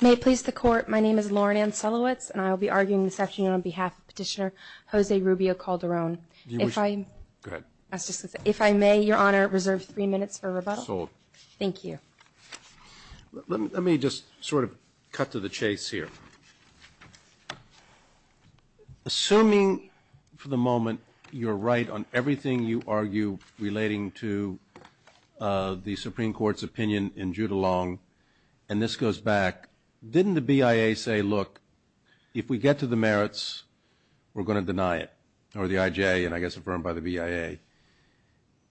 May it please the court, my name is Lauren Ann Selowitz, and I will be arguing this afternoon on behalf of Petitioner Jose Rubio Calderon. If I may, Your Honor, reserve three minutes for rebuttal. Thank you. Let me just sort of cut to the chase here. Assuming, for the moment, you're right on everything you argue relating to the Supreme Court's opinion in Judulong, and this goes back, didn't the BIA say, look, if we get to the merits, we're going to deny it? Or the IJ, and I guess affirmed by the BIA.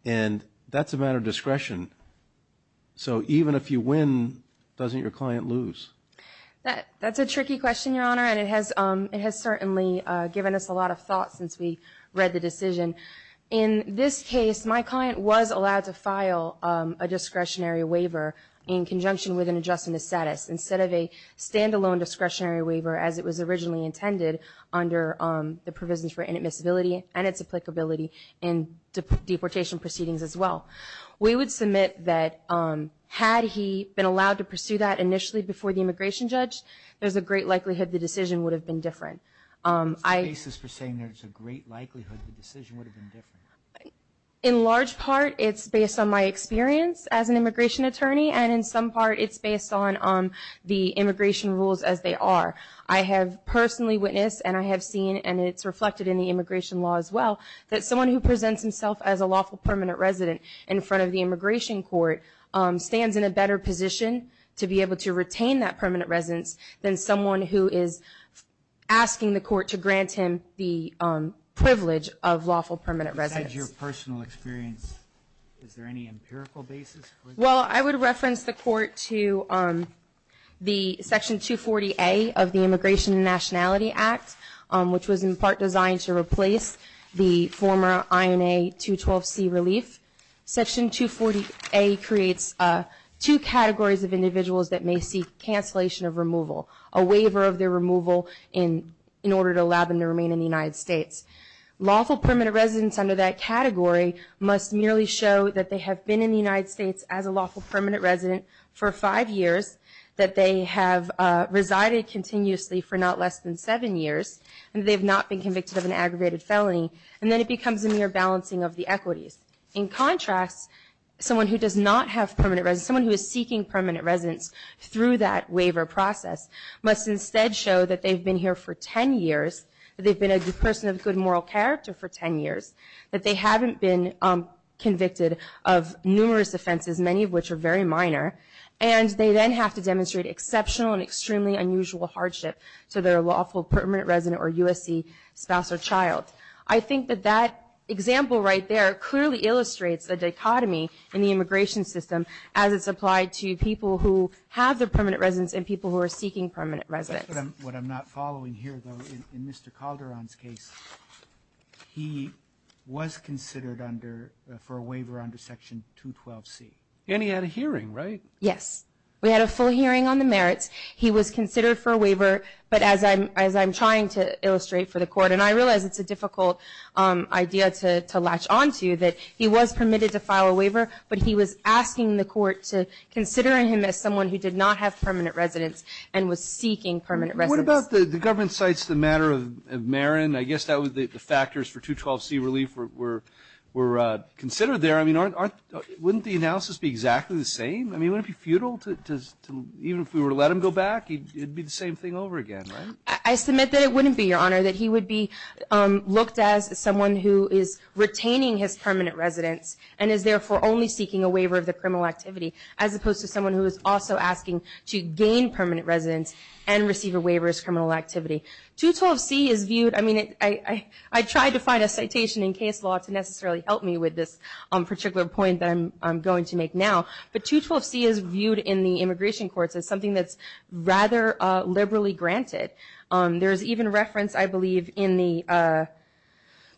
And that's a matter of discretion. So even if you win, doesn't your client lose? That's a tricky question, Your Honor, and it has certainly given us a lot of thought since we read the decision. In this case, my client was allowed to file a discretionary waiver in conjunction with an adjustment of status, instead of a standalone discretionary waiver as it was originally intended under the provisions for inadmissibility and its applicability in deportation proceedings as well. We would submit that had he been allowed to pursue that initially before the immigration judge, there's a great likelihood the decision would have been different. There's a basis for saying there's a great likelihood the decision would have been different. In large part, it's based on my experience as an immigration attorney, and in some part it's based on the immigration rules as they are. I have personally witnessed, and I have seen, and it's reflected in the immigration law as well, that someone who presents himself as a lawful permanent resident in front of the immigration court stands in a better position to be able to retain that permanent residence than someone who is asking the court to grant him the privilege of lawful permanent residence. Besides your personal experience, is there any empirical basis? Well, I would reference the court to the Section 240A of the Immigration and Nationality Act, which was in part designed to replace the former INA 212C relief. Section 240A creates two categories of individuals that may seek cancellation of removal, a waiver of their removal in order to allow them to remain in the United States. Lawful permanent residents under that category must merely show that they have been in the United States as a lawful permanent resident for five years, that they have resided continuously for not less than seven years, and they've not been convicted of an aggravated felony, and then it becomes a mere balancing of the equities. In contrast, someone who does not have permanent residence, someone who is seeking permanent residence through that waiver process must instead show that they've been here for ten years, that they've been a good person of good moral character for ten years, that they haven't been convicted of numerous offenses, many of which are very minor, and they then have to demonstrate exceptional and extremely unusual hardship to their lawful permanent resident or USC spouse or child. I think that that example right there clearly illustrates the dichotomy in the immigration system as it's applied to people who have their permanent residence and people who are seeking permanent residence. Robertson What I'm not following here, though, in Mr. Calderon's case, he was considered under for a waiver under Section 212C. And he had a hearing, right? Yes. We had a full hearing on the merits. He was considered for a waiver, but as I'm trying to illustrate for the Court, and I realize it's a difficult idea to latch onto, that he was permitted to file a waiver, but he was asking the Court to consider him as someone who did not have permanent residence and was seeking permanent residence. What about the government cites the matter of Marin? I guess that was the factors for 212C relief were considered there. I mean, wouldn't the analysis be exactly the same? I mean, wouldn't it be futile to even if we were to let him go back, it would be the same thing over again, right? I submit that it wouldn't be, Your Honor, that he would be looked at as someone who is retaining his permanent residence and is therefore only seeking a waiver of the criminal activity, as opposed to someone who is also asking to gain permanent residence and receive a waiver as criminal activity. 212C is viewed, I mean, I tried to find a citation in case law to necessarily help me with this particular point that I'm going to make now, but 212C is viewed in the immigration courts as something that's rather liberally granted. There's even reference, I believe, in the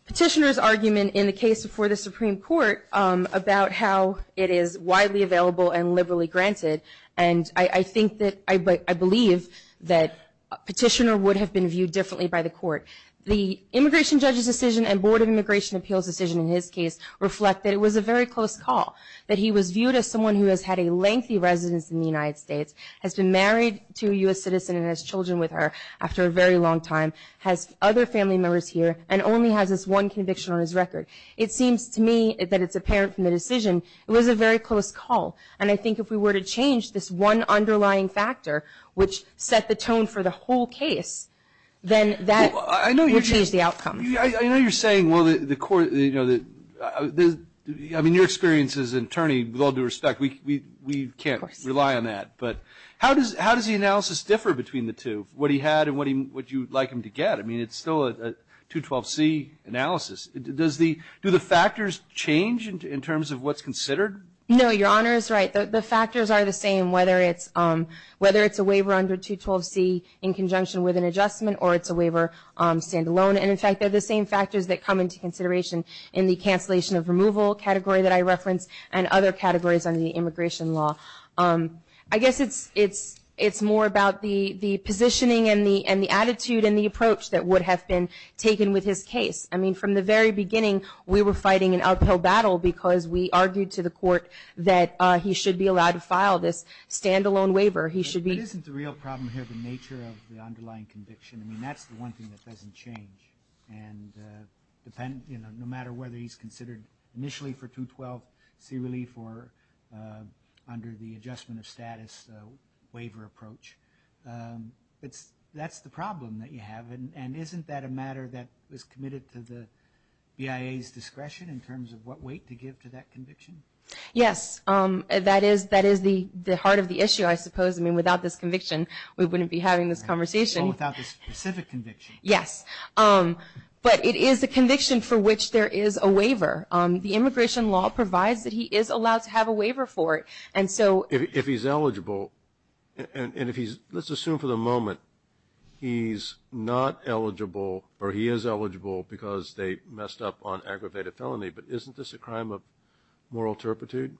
petitioner's argument in the case before the Supreme Court about how it is widely available and liberally granted, and I think that, I believe that petitioner would have been viewed differently by the Court. The immigration judge's decision and Board of Immigration Appeals' decision in his case reflect that it was a very close call, that he was viewed as someone who has had a lengthy residence in the United States, has been married to a U.S. citizen and has children with her after a very long time, has other family members here, and only has this one conviction on his record. It seems to me that it's apparent from the decision it was a very close call, and I think if we were to change this one underlying factor, which set the tone for the whole case, then that would change the outcome. I know you're saying, well, the court, I mean, your experience as an attorney, with all due respect, we can't rely on that, but how does the analysis differ between the two, what he had and what you'd like him to get? I mean, it's still a 212C analysis. Do the factors change in terms of what's considered? No, Your Honor is right. The factors are the same, whether it's a waiver under 212C in conjunction with an adjustment or it's a waiver standalone, and in fact, they're the same factors that come into consideration in the cancellation of removal category that I referenced and other categories under the immigration law. I guess it's more about the positioning and the attitude and the approach that would have been taken with his case. I mean, from the very beginning, we were fighting an uphill battle because we should be allowed to file this standalone waiver. But isn't the real problem here the nature of the underlying conviction? I mean, that's the one thing that doesn't change, and no matter whether he's considered initially for 212C relief or under the adjustment of status waiver approach, that's the problem that you have. And isn't that a matter that is committed to the BIA's discretion in terms of what weight to give to that conviction? Yes. That is the heart of the issue, I suppose. I mean, without this conviction, we wouldn't be having this conversation. Well, without this specific conviction. Yes. But it is a conviction for which there is a waiver. The immigration law provides that he is allowed to have a waiver for it. If he's eligible, and if he's, let's assume for the moment he's not eligible or he is eligible because they messed up on aggravated felony, but isn't this a crime of moral turpitude?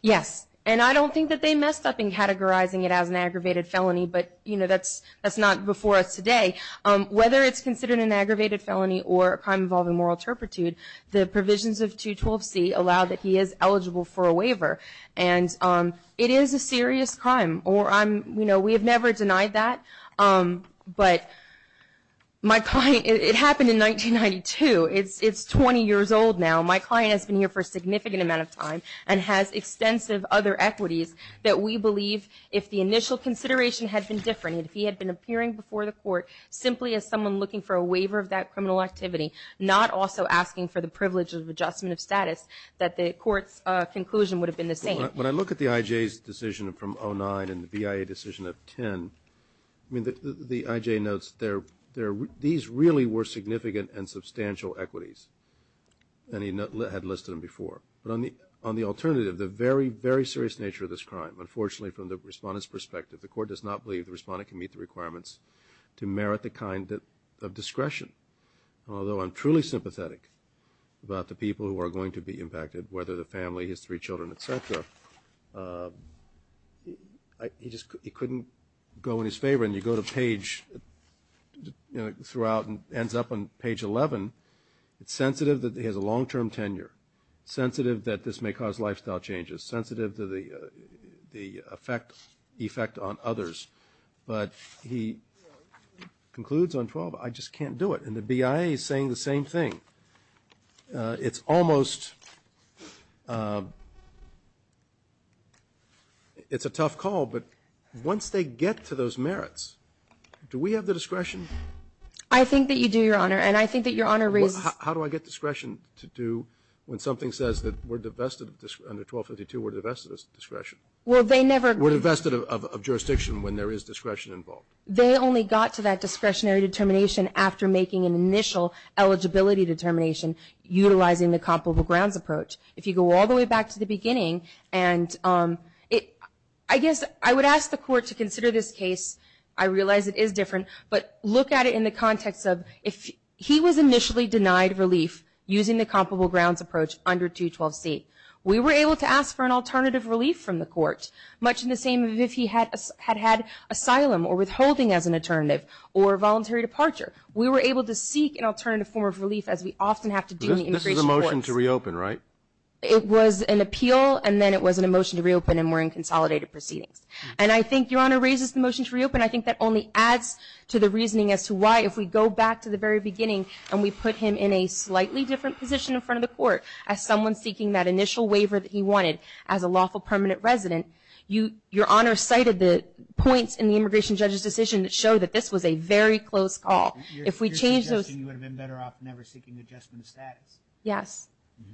Yes. And I don't think that they messed up in categorizing it as an aggravated felony, but that's not before us today. Whether it's considered an aggravated felony or a crime involving moral turpitude, the provisions of 212C allow that he is eligible for a waiver. And it is a serious crime. We have never denied that, but it happened in 1992. It's 20 years old now. My client has been here for a significant amount of time and has extensive other equities that we believe if the initial consideration had been different, if he had been appearing before the court simply as someone looking for a waiver of that criminal activity, not also asking for the privilege of adjustment of status, that the court's conclusion would have been the same. When I look at the IJ's decision from 2009 and the BIA decision of 2010, the IJ notes these really were significant and substantial equities. And he had listed them before. But on the alternative, the very, very serious nature of this crime, unfortunately from the respondent's perspective, the court does not believe the respondent can meet the requirements to merit the kind of discretion. Although I'm truly sympathetic about the people who are going to be impacted, whether the family, his three children, et cetera, he just couldn't go in his favor. When you go to page throughout and ends up on page 11, it's sensitive that he has a long-term tenure, sensitive that this may cause lifestyle changes, sensitive to the effect on others. But he concludes on 12, I just can't do it. And the BIA is saying the same thing. It's almost, it's a tough call, but once they get to those merits, do we have the discretion? I think that you do, Your Honor, and I think that Your Honor raises. How do I get discretion to do when something says that we're divested, under 1252, we're divested of discretion? Well, they never. We're divested of jurisdiction when there is discretion involved. They only got to that discretionary determination after making an initial eligibility determination utilizing the comparable grounds approach. If you go all the way back to the beginning, and I guess I would ask the court to consider this case. I realize it is different, but look at it in the context of if he was initially denied relief using the comparable grounds approach under 212C. We were able to ask for an alternative relief from the court, much in the same way as if he had had asylum or withholding as an alternative or voluntary departure. We were able to seek an alternative form of relief as we often have to do in This is a motion to reopen, right? It was an appeal, and then it was a motion to reopen, and we're in consolidated proceedings. And I think Your Honor raises the motion to reopen. I think that only adds to the reasoning as to why if we go back to the very beginning and we put him in a slightly different position in front of the court as someone seeking that initial waiver that he wanted as a lawful permanent resident, Your Honor cited the points in the immigration judge's decision that show that this was a very close call. If we change those... Your suggestion would have been better off never seeking adjustment of status. Yes.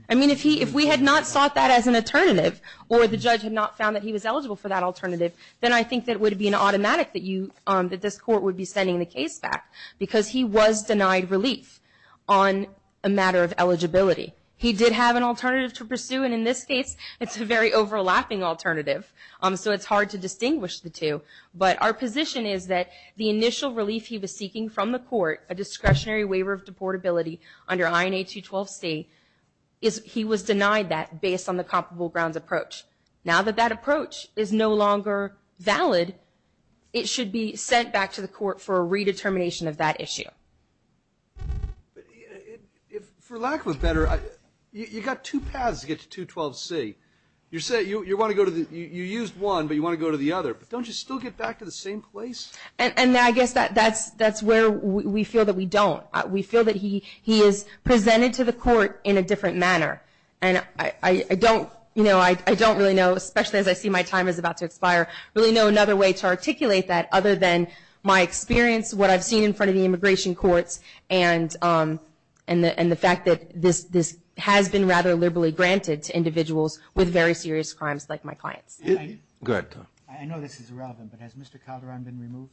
I mean if we had not sought that as an alternative or the judge had not found that he was eligible for that alternative, then I think that would be an automatic that this court would be sending the case back because he was denied relief on a matter of eligibility. He did have an alternative to pursue, and in this case, it's a very overlapping alternative, so it's hard to distinguish the two. But our position is that the initial relief he was seeking from the court, a discretionary waiver of deportability under INA 212C, he was denied that based on the comparable grounds approach. Now that that approach is no longer valid, it should be sent back to the court for a redetermination of that issue. For lack of a better, you've got two paths to get to 212C. You used one, but you want to go to the other. But don't you still get back to the same place? And I guess that's where we feel that we don't. We feel that he is presented to the court in a different manner. And I don't really know, especially as I see my time is about to expire, really know another way to articulate that other than my experience, what I've seen in front of the immigration courts, and the fact that this has been rather liberally granted to individuals with very serious crimes like my clients. Go ahead, Tom. I know this is irrelevant, but has Mr. Calderon been removed?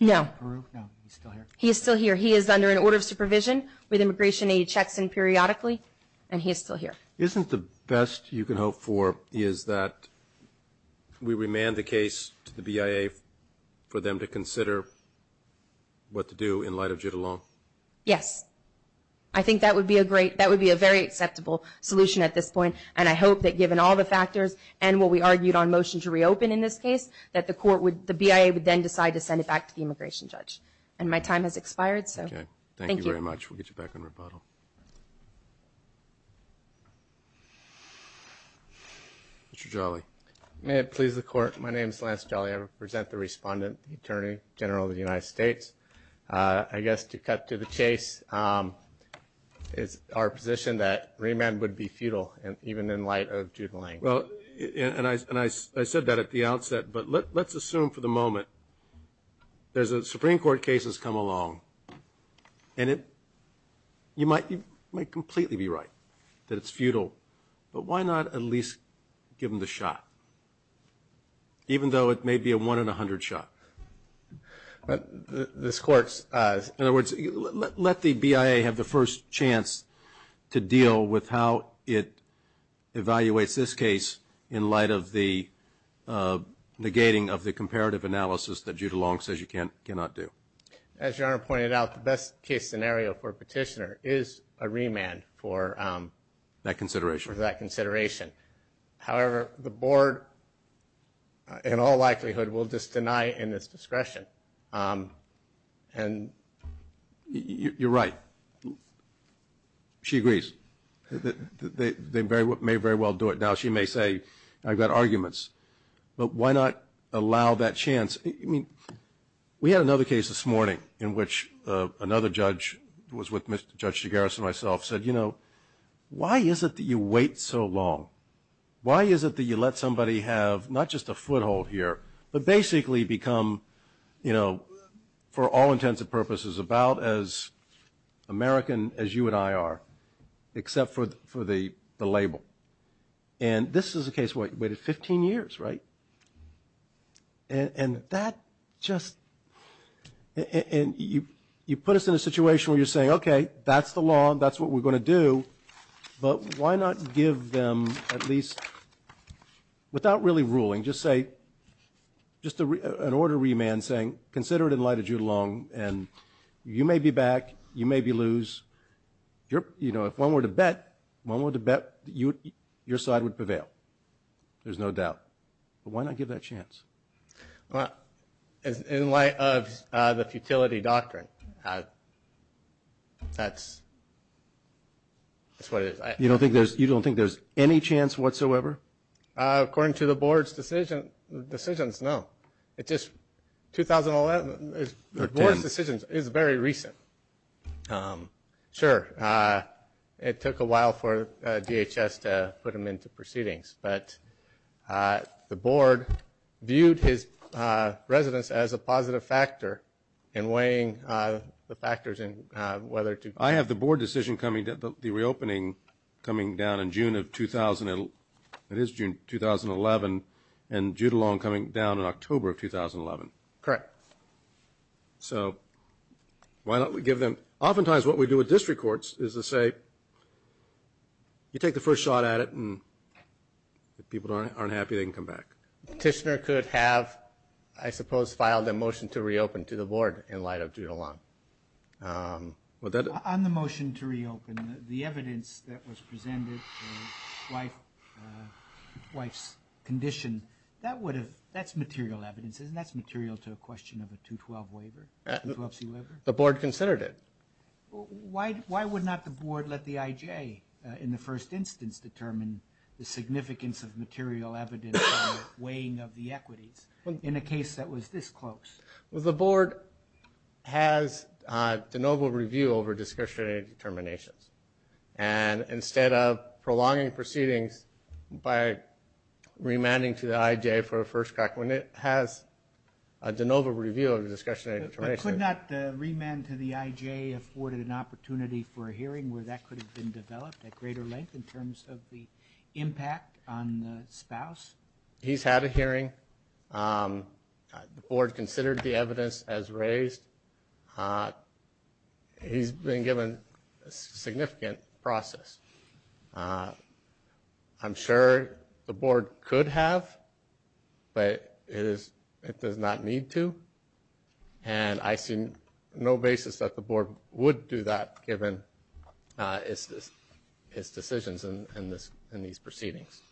No. Peru? No, he's still here. He is still here. He is under an order of supervision with Immigration Aid checks in periodically, and he is still here. Isn't the best you can hope for is that we remand the case to the BIA for them to consider what to do in light of Judulon? Yes. I think that would be a very acceptable solution at this point, and I hope that given all the factors and what we argued on motion to reopen in this case, that the BIA would then decide to send it back to the immigration judge. And my time has expired, so thank you. Okay. Thank you very much. We'll get you back on rebuttal. Mr. Jolly. May it please the Court, my name is Lance Jolly. I represent the respondent, the Attorney General of the United States. I guess to cut to the chase, it's our position that remand would be futile, even in light of Judulon. And I said that at the outset, but let's assume for the moment there's a Supreme Court case that's come along, and you might completely be right that it's futile, but why not at least give them the shot, even though it may be a one-in-a-hundred shot? This Court's... In other words, let the BIA have the first chance to deal with how it evaluates this case in light of the negating of the comparative analysis that Judulon says you cannot do. As Your Honor pointed out, the best-case scenario for a petitioner is a remand for... That consideration. For that consideration. However, the Board, in all likelihood, will just deny it in its discretion. And... You're right. She agrees. They may very well do it now. She may say, I've got arguments. But why not allow that chance? I mean, we had another case this morning in which another judge, who was with Judge Shigaris and myself, said, you know, why is it that you wait so long? Why is it that you let somebody have not just a foothold here, but basically become, you know, for all intents and purposes, about as American as you and I are, except for the label? And this is a case where you waited 15 years, right? And that just... You put us in a situation where you're saying, okay, that's the law, that's what we're going to do, but why not give them at least, without really ruling, just say, just an order of remand saying, consider it in light of Judulon, and you may be back, you may be lose. You know, if one were to bet, one were to bet, your side would prevail. There's no doubt. But why not give that chance? Well, in light of the futility doctrine, that's what it is. You don't think there's any chance whatsoever? According to the board's decisions, no. It's just 2011. The board's decision is very recent. Sure, it took a while for DHS to put them into proceedings, but the board viewed his residence as a positive factor in weighing the factors in whether to... I have the board decision coming, the reopening coming down in June of, it is June 2011, and Judulon coming down in October of 2011. Correct. So why don't we give them... Oftentimes what we do with district courts is to say, you take the first shot at it, and if people aren't happy, they can come back. Petitioner could have, I suppose, filed a motion to reopen to the board in light of Judulon. On the motion to reopen, the evidence that was presented, the wife's condition, that's material evidence. Isn't that material to a question of a 212 waiver, a 212c waiver? The board considered it. Why would not the board let the IJ in the first instance determine the significance of material evidence in the weighing of the equities in a case that was this close? Well, the board has de novo review over discretionary determinations, and instead of prolonging proceedings by remanding to the IJ for a first crack, when it has a de novo review of discretionary determinations... Has the IJ afforded an opportunity for a hearing where that could have been developed at greater length in terms of the impact on the spouse? He's had a hearing. The board considered the evidence as raised. He's been given a significant process. I'm sure the board could have, but it does not need to, and I see no basis that the board would do that given his decisions in these proceedings.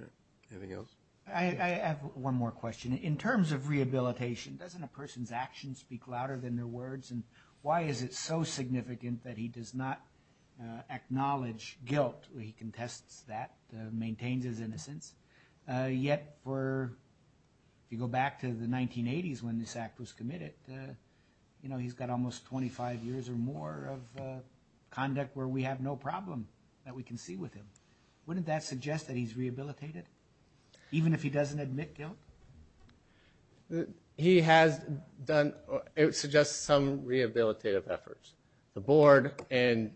Okay. Anything else? I have one more question. In terms of rehabilitation, doesn't a person's actions speak louder than their words, and why is it so significant that he does not acknowledge guilt? He contests that, maintains his innocence. Yet, if you go back to the 1980s when this act was committed, he's got almost 25 years or more of conduct where we have no problem that we can see with him. Wouldn't that suggest that he's rehabilitated, even if he doesn't admit guilt? It suggests some rehabilitative efforts. The board, in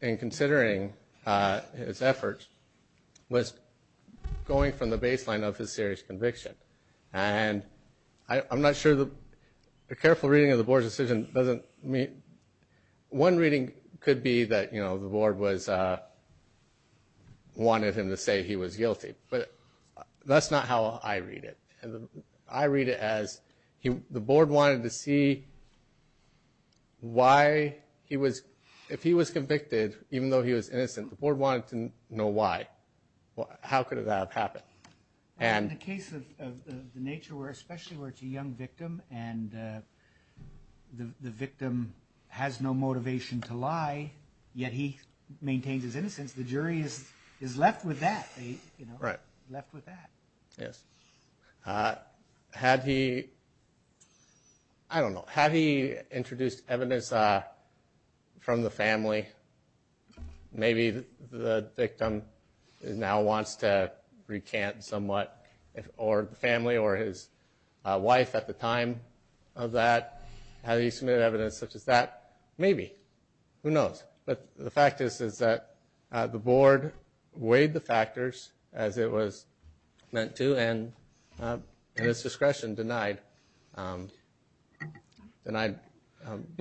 considering his efforts, was going from the baseline of his serious conviction, and I'm not sure the careful reading of the board's decision doesn't mean. One reading could be that the board wanted him to say he was guilty, but that's not how I read it. I read it as the board wanted to see why he was, if he was convicted, even though he was innocent, the board wanted to know why. How could that have happened? In the case of the nature, especially where it's a young victim, and the victim has no motivation to lie, yet he maintains his innocence, the jury is left with that. Right. Left with that. Yes. Had he, I don't know, had he introduced evidence from the family? Maybe the victim now wants to recant somewhat, or the family or his wife at the time of that. Had he submitted evidence such as that? Maybe. Who knows? The fact is that the board weighed the factors as it was meant to, and at its discretion denied. And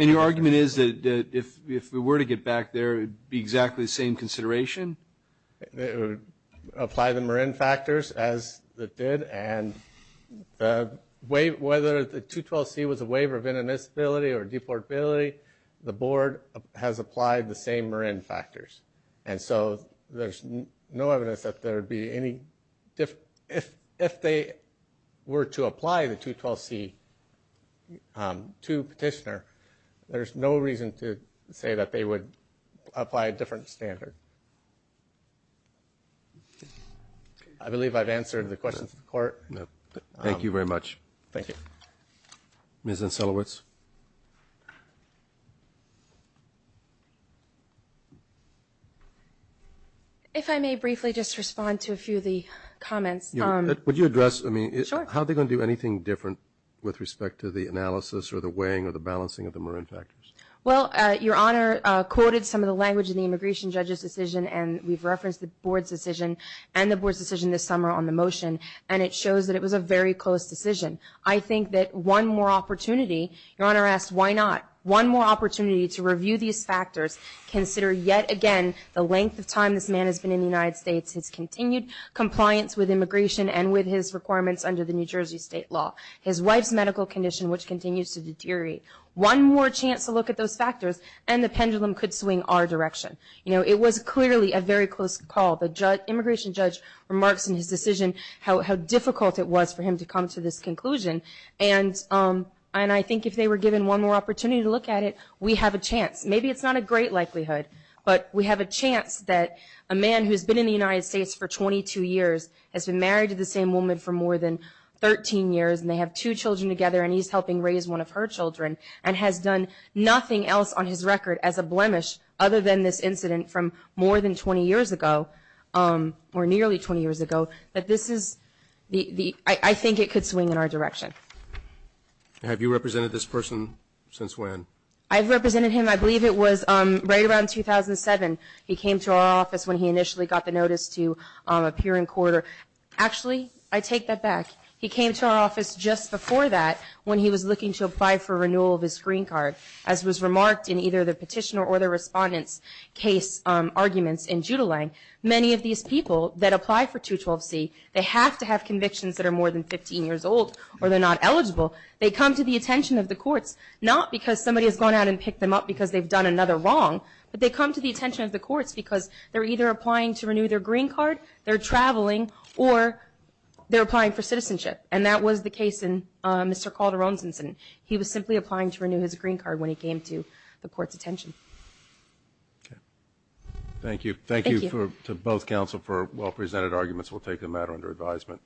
your argument is that if we were to get back there, it would be exactly the same consideration? Apply the Marin factors as it did, and whether the 212C was a waiver of inadmissibility or deportability, the board has applied the same Marin factors. And so there's no evidence that there would be any difference. If they were to apply the 212C to petitioner, there's no reason to say that they would apply a different standard. I believe I've answered the questions of the court. Thank you very much. Thank you. Ms. Ancelowitz. If I may briefly just respond to a few of the comments. Would you address? Sure. How are they going to do anything different with respect to the analysis or the weighing or the balancing of the Marin factors? Well, Your Honor quoted some of the language in the immigration judge's decision, and we've referenced the board's decision and the board's decision this summer on the motion, and it shows that it was a very close decision. I think that one more opportunity, Your Honor asked why not, one more opportunity to review these factors, consider yet again the length of time this man has been in the United States, his continued compliance with immigration and with his requirements under the New Jersey state law, his wife's medical condition, which continues to deteriorate. One more chance to look at those factors, and the pendulum could swing our direction. You know, it was clearly a very close call. The immigration judge remarks in his decision how difficult it was for him to come to this conclusion, and I think if they were given one more opportunity to look at it, we have a chance. Maybe it's not a great likelihood, but we have a chance that a man who has been in the United States for 22 years has been married to the same woman for more than 13 years, and they have two children together, and he's helping raise one of her children and has done nothing else on his record as a blemish other than this incident from more than 20 years ago or nearly 20 years ago. I think it could swing in our direction. Have you represented this person since when? I've represented him, I believe it was right around 2007. He came to our office when he initially got the notice to appear in court. Actually, I take that back. He came to our office just before that when he was looking to apply for renewal of his screen card. As was remarked in either the petitioner or the respondent's case arguments in Judulang, many of these people that apply for 212C, they have to have convictions that are more than 15 years old or they're not eligible. They come to the attention of the courts, not because somebody has gone out and picked them up because they've done another wrong, but they come to the attention of the courts because they're either applying to renew their green card, they're traveling, or they're applying for citizenship, and that was the case in Mr. Calderon's incident. He was simply applying to renew his green card when he came to the court's attention. Okay. Thank you. Thank you to both counsel for well-presented arguments. We'll take the matter under advisement.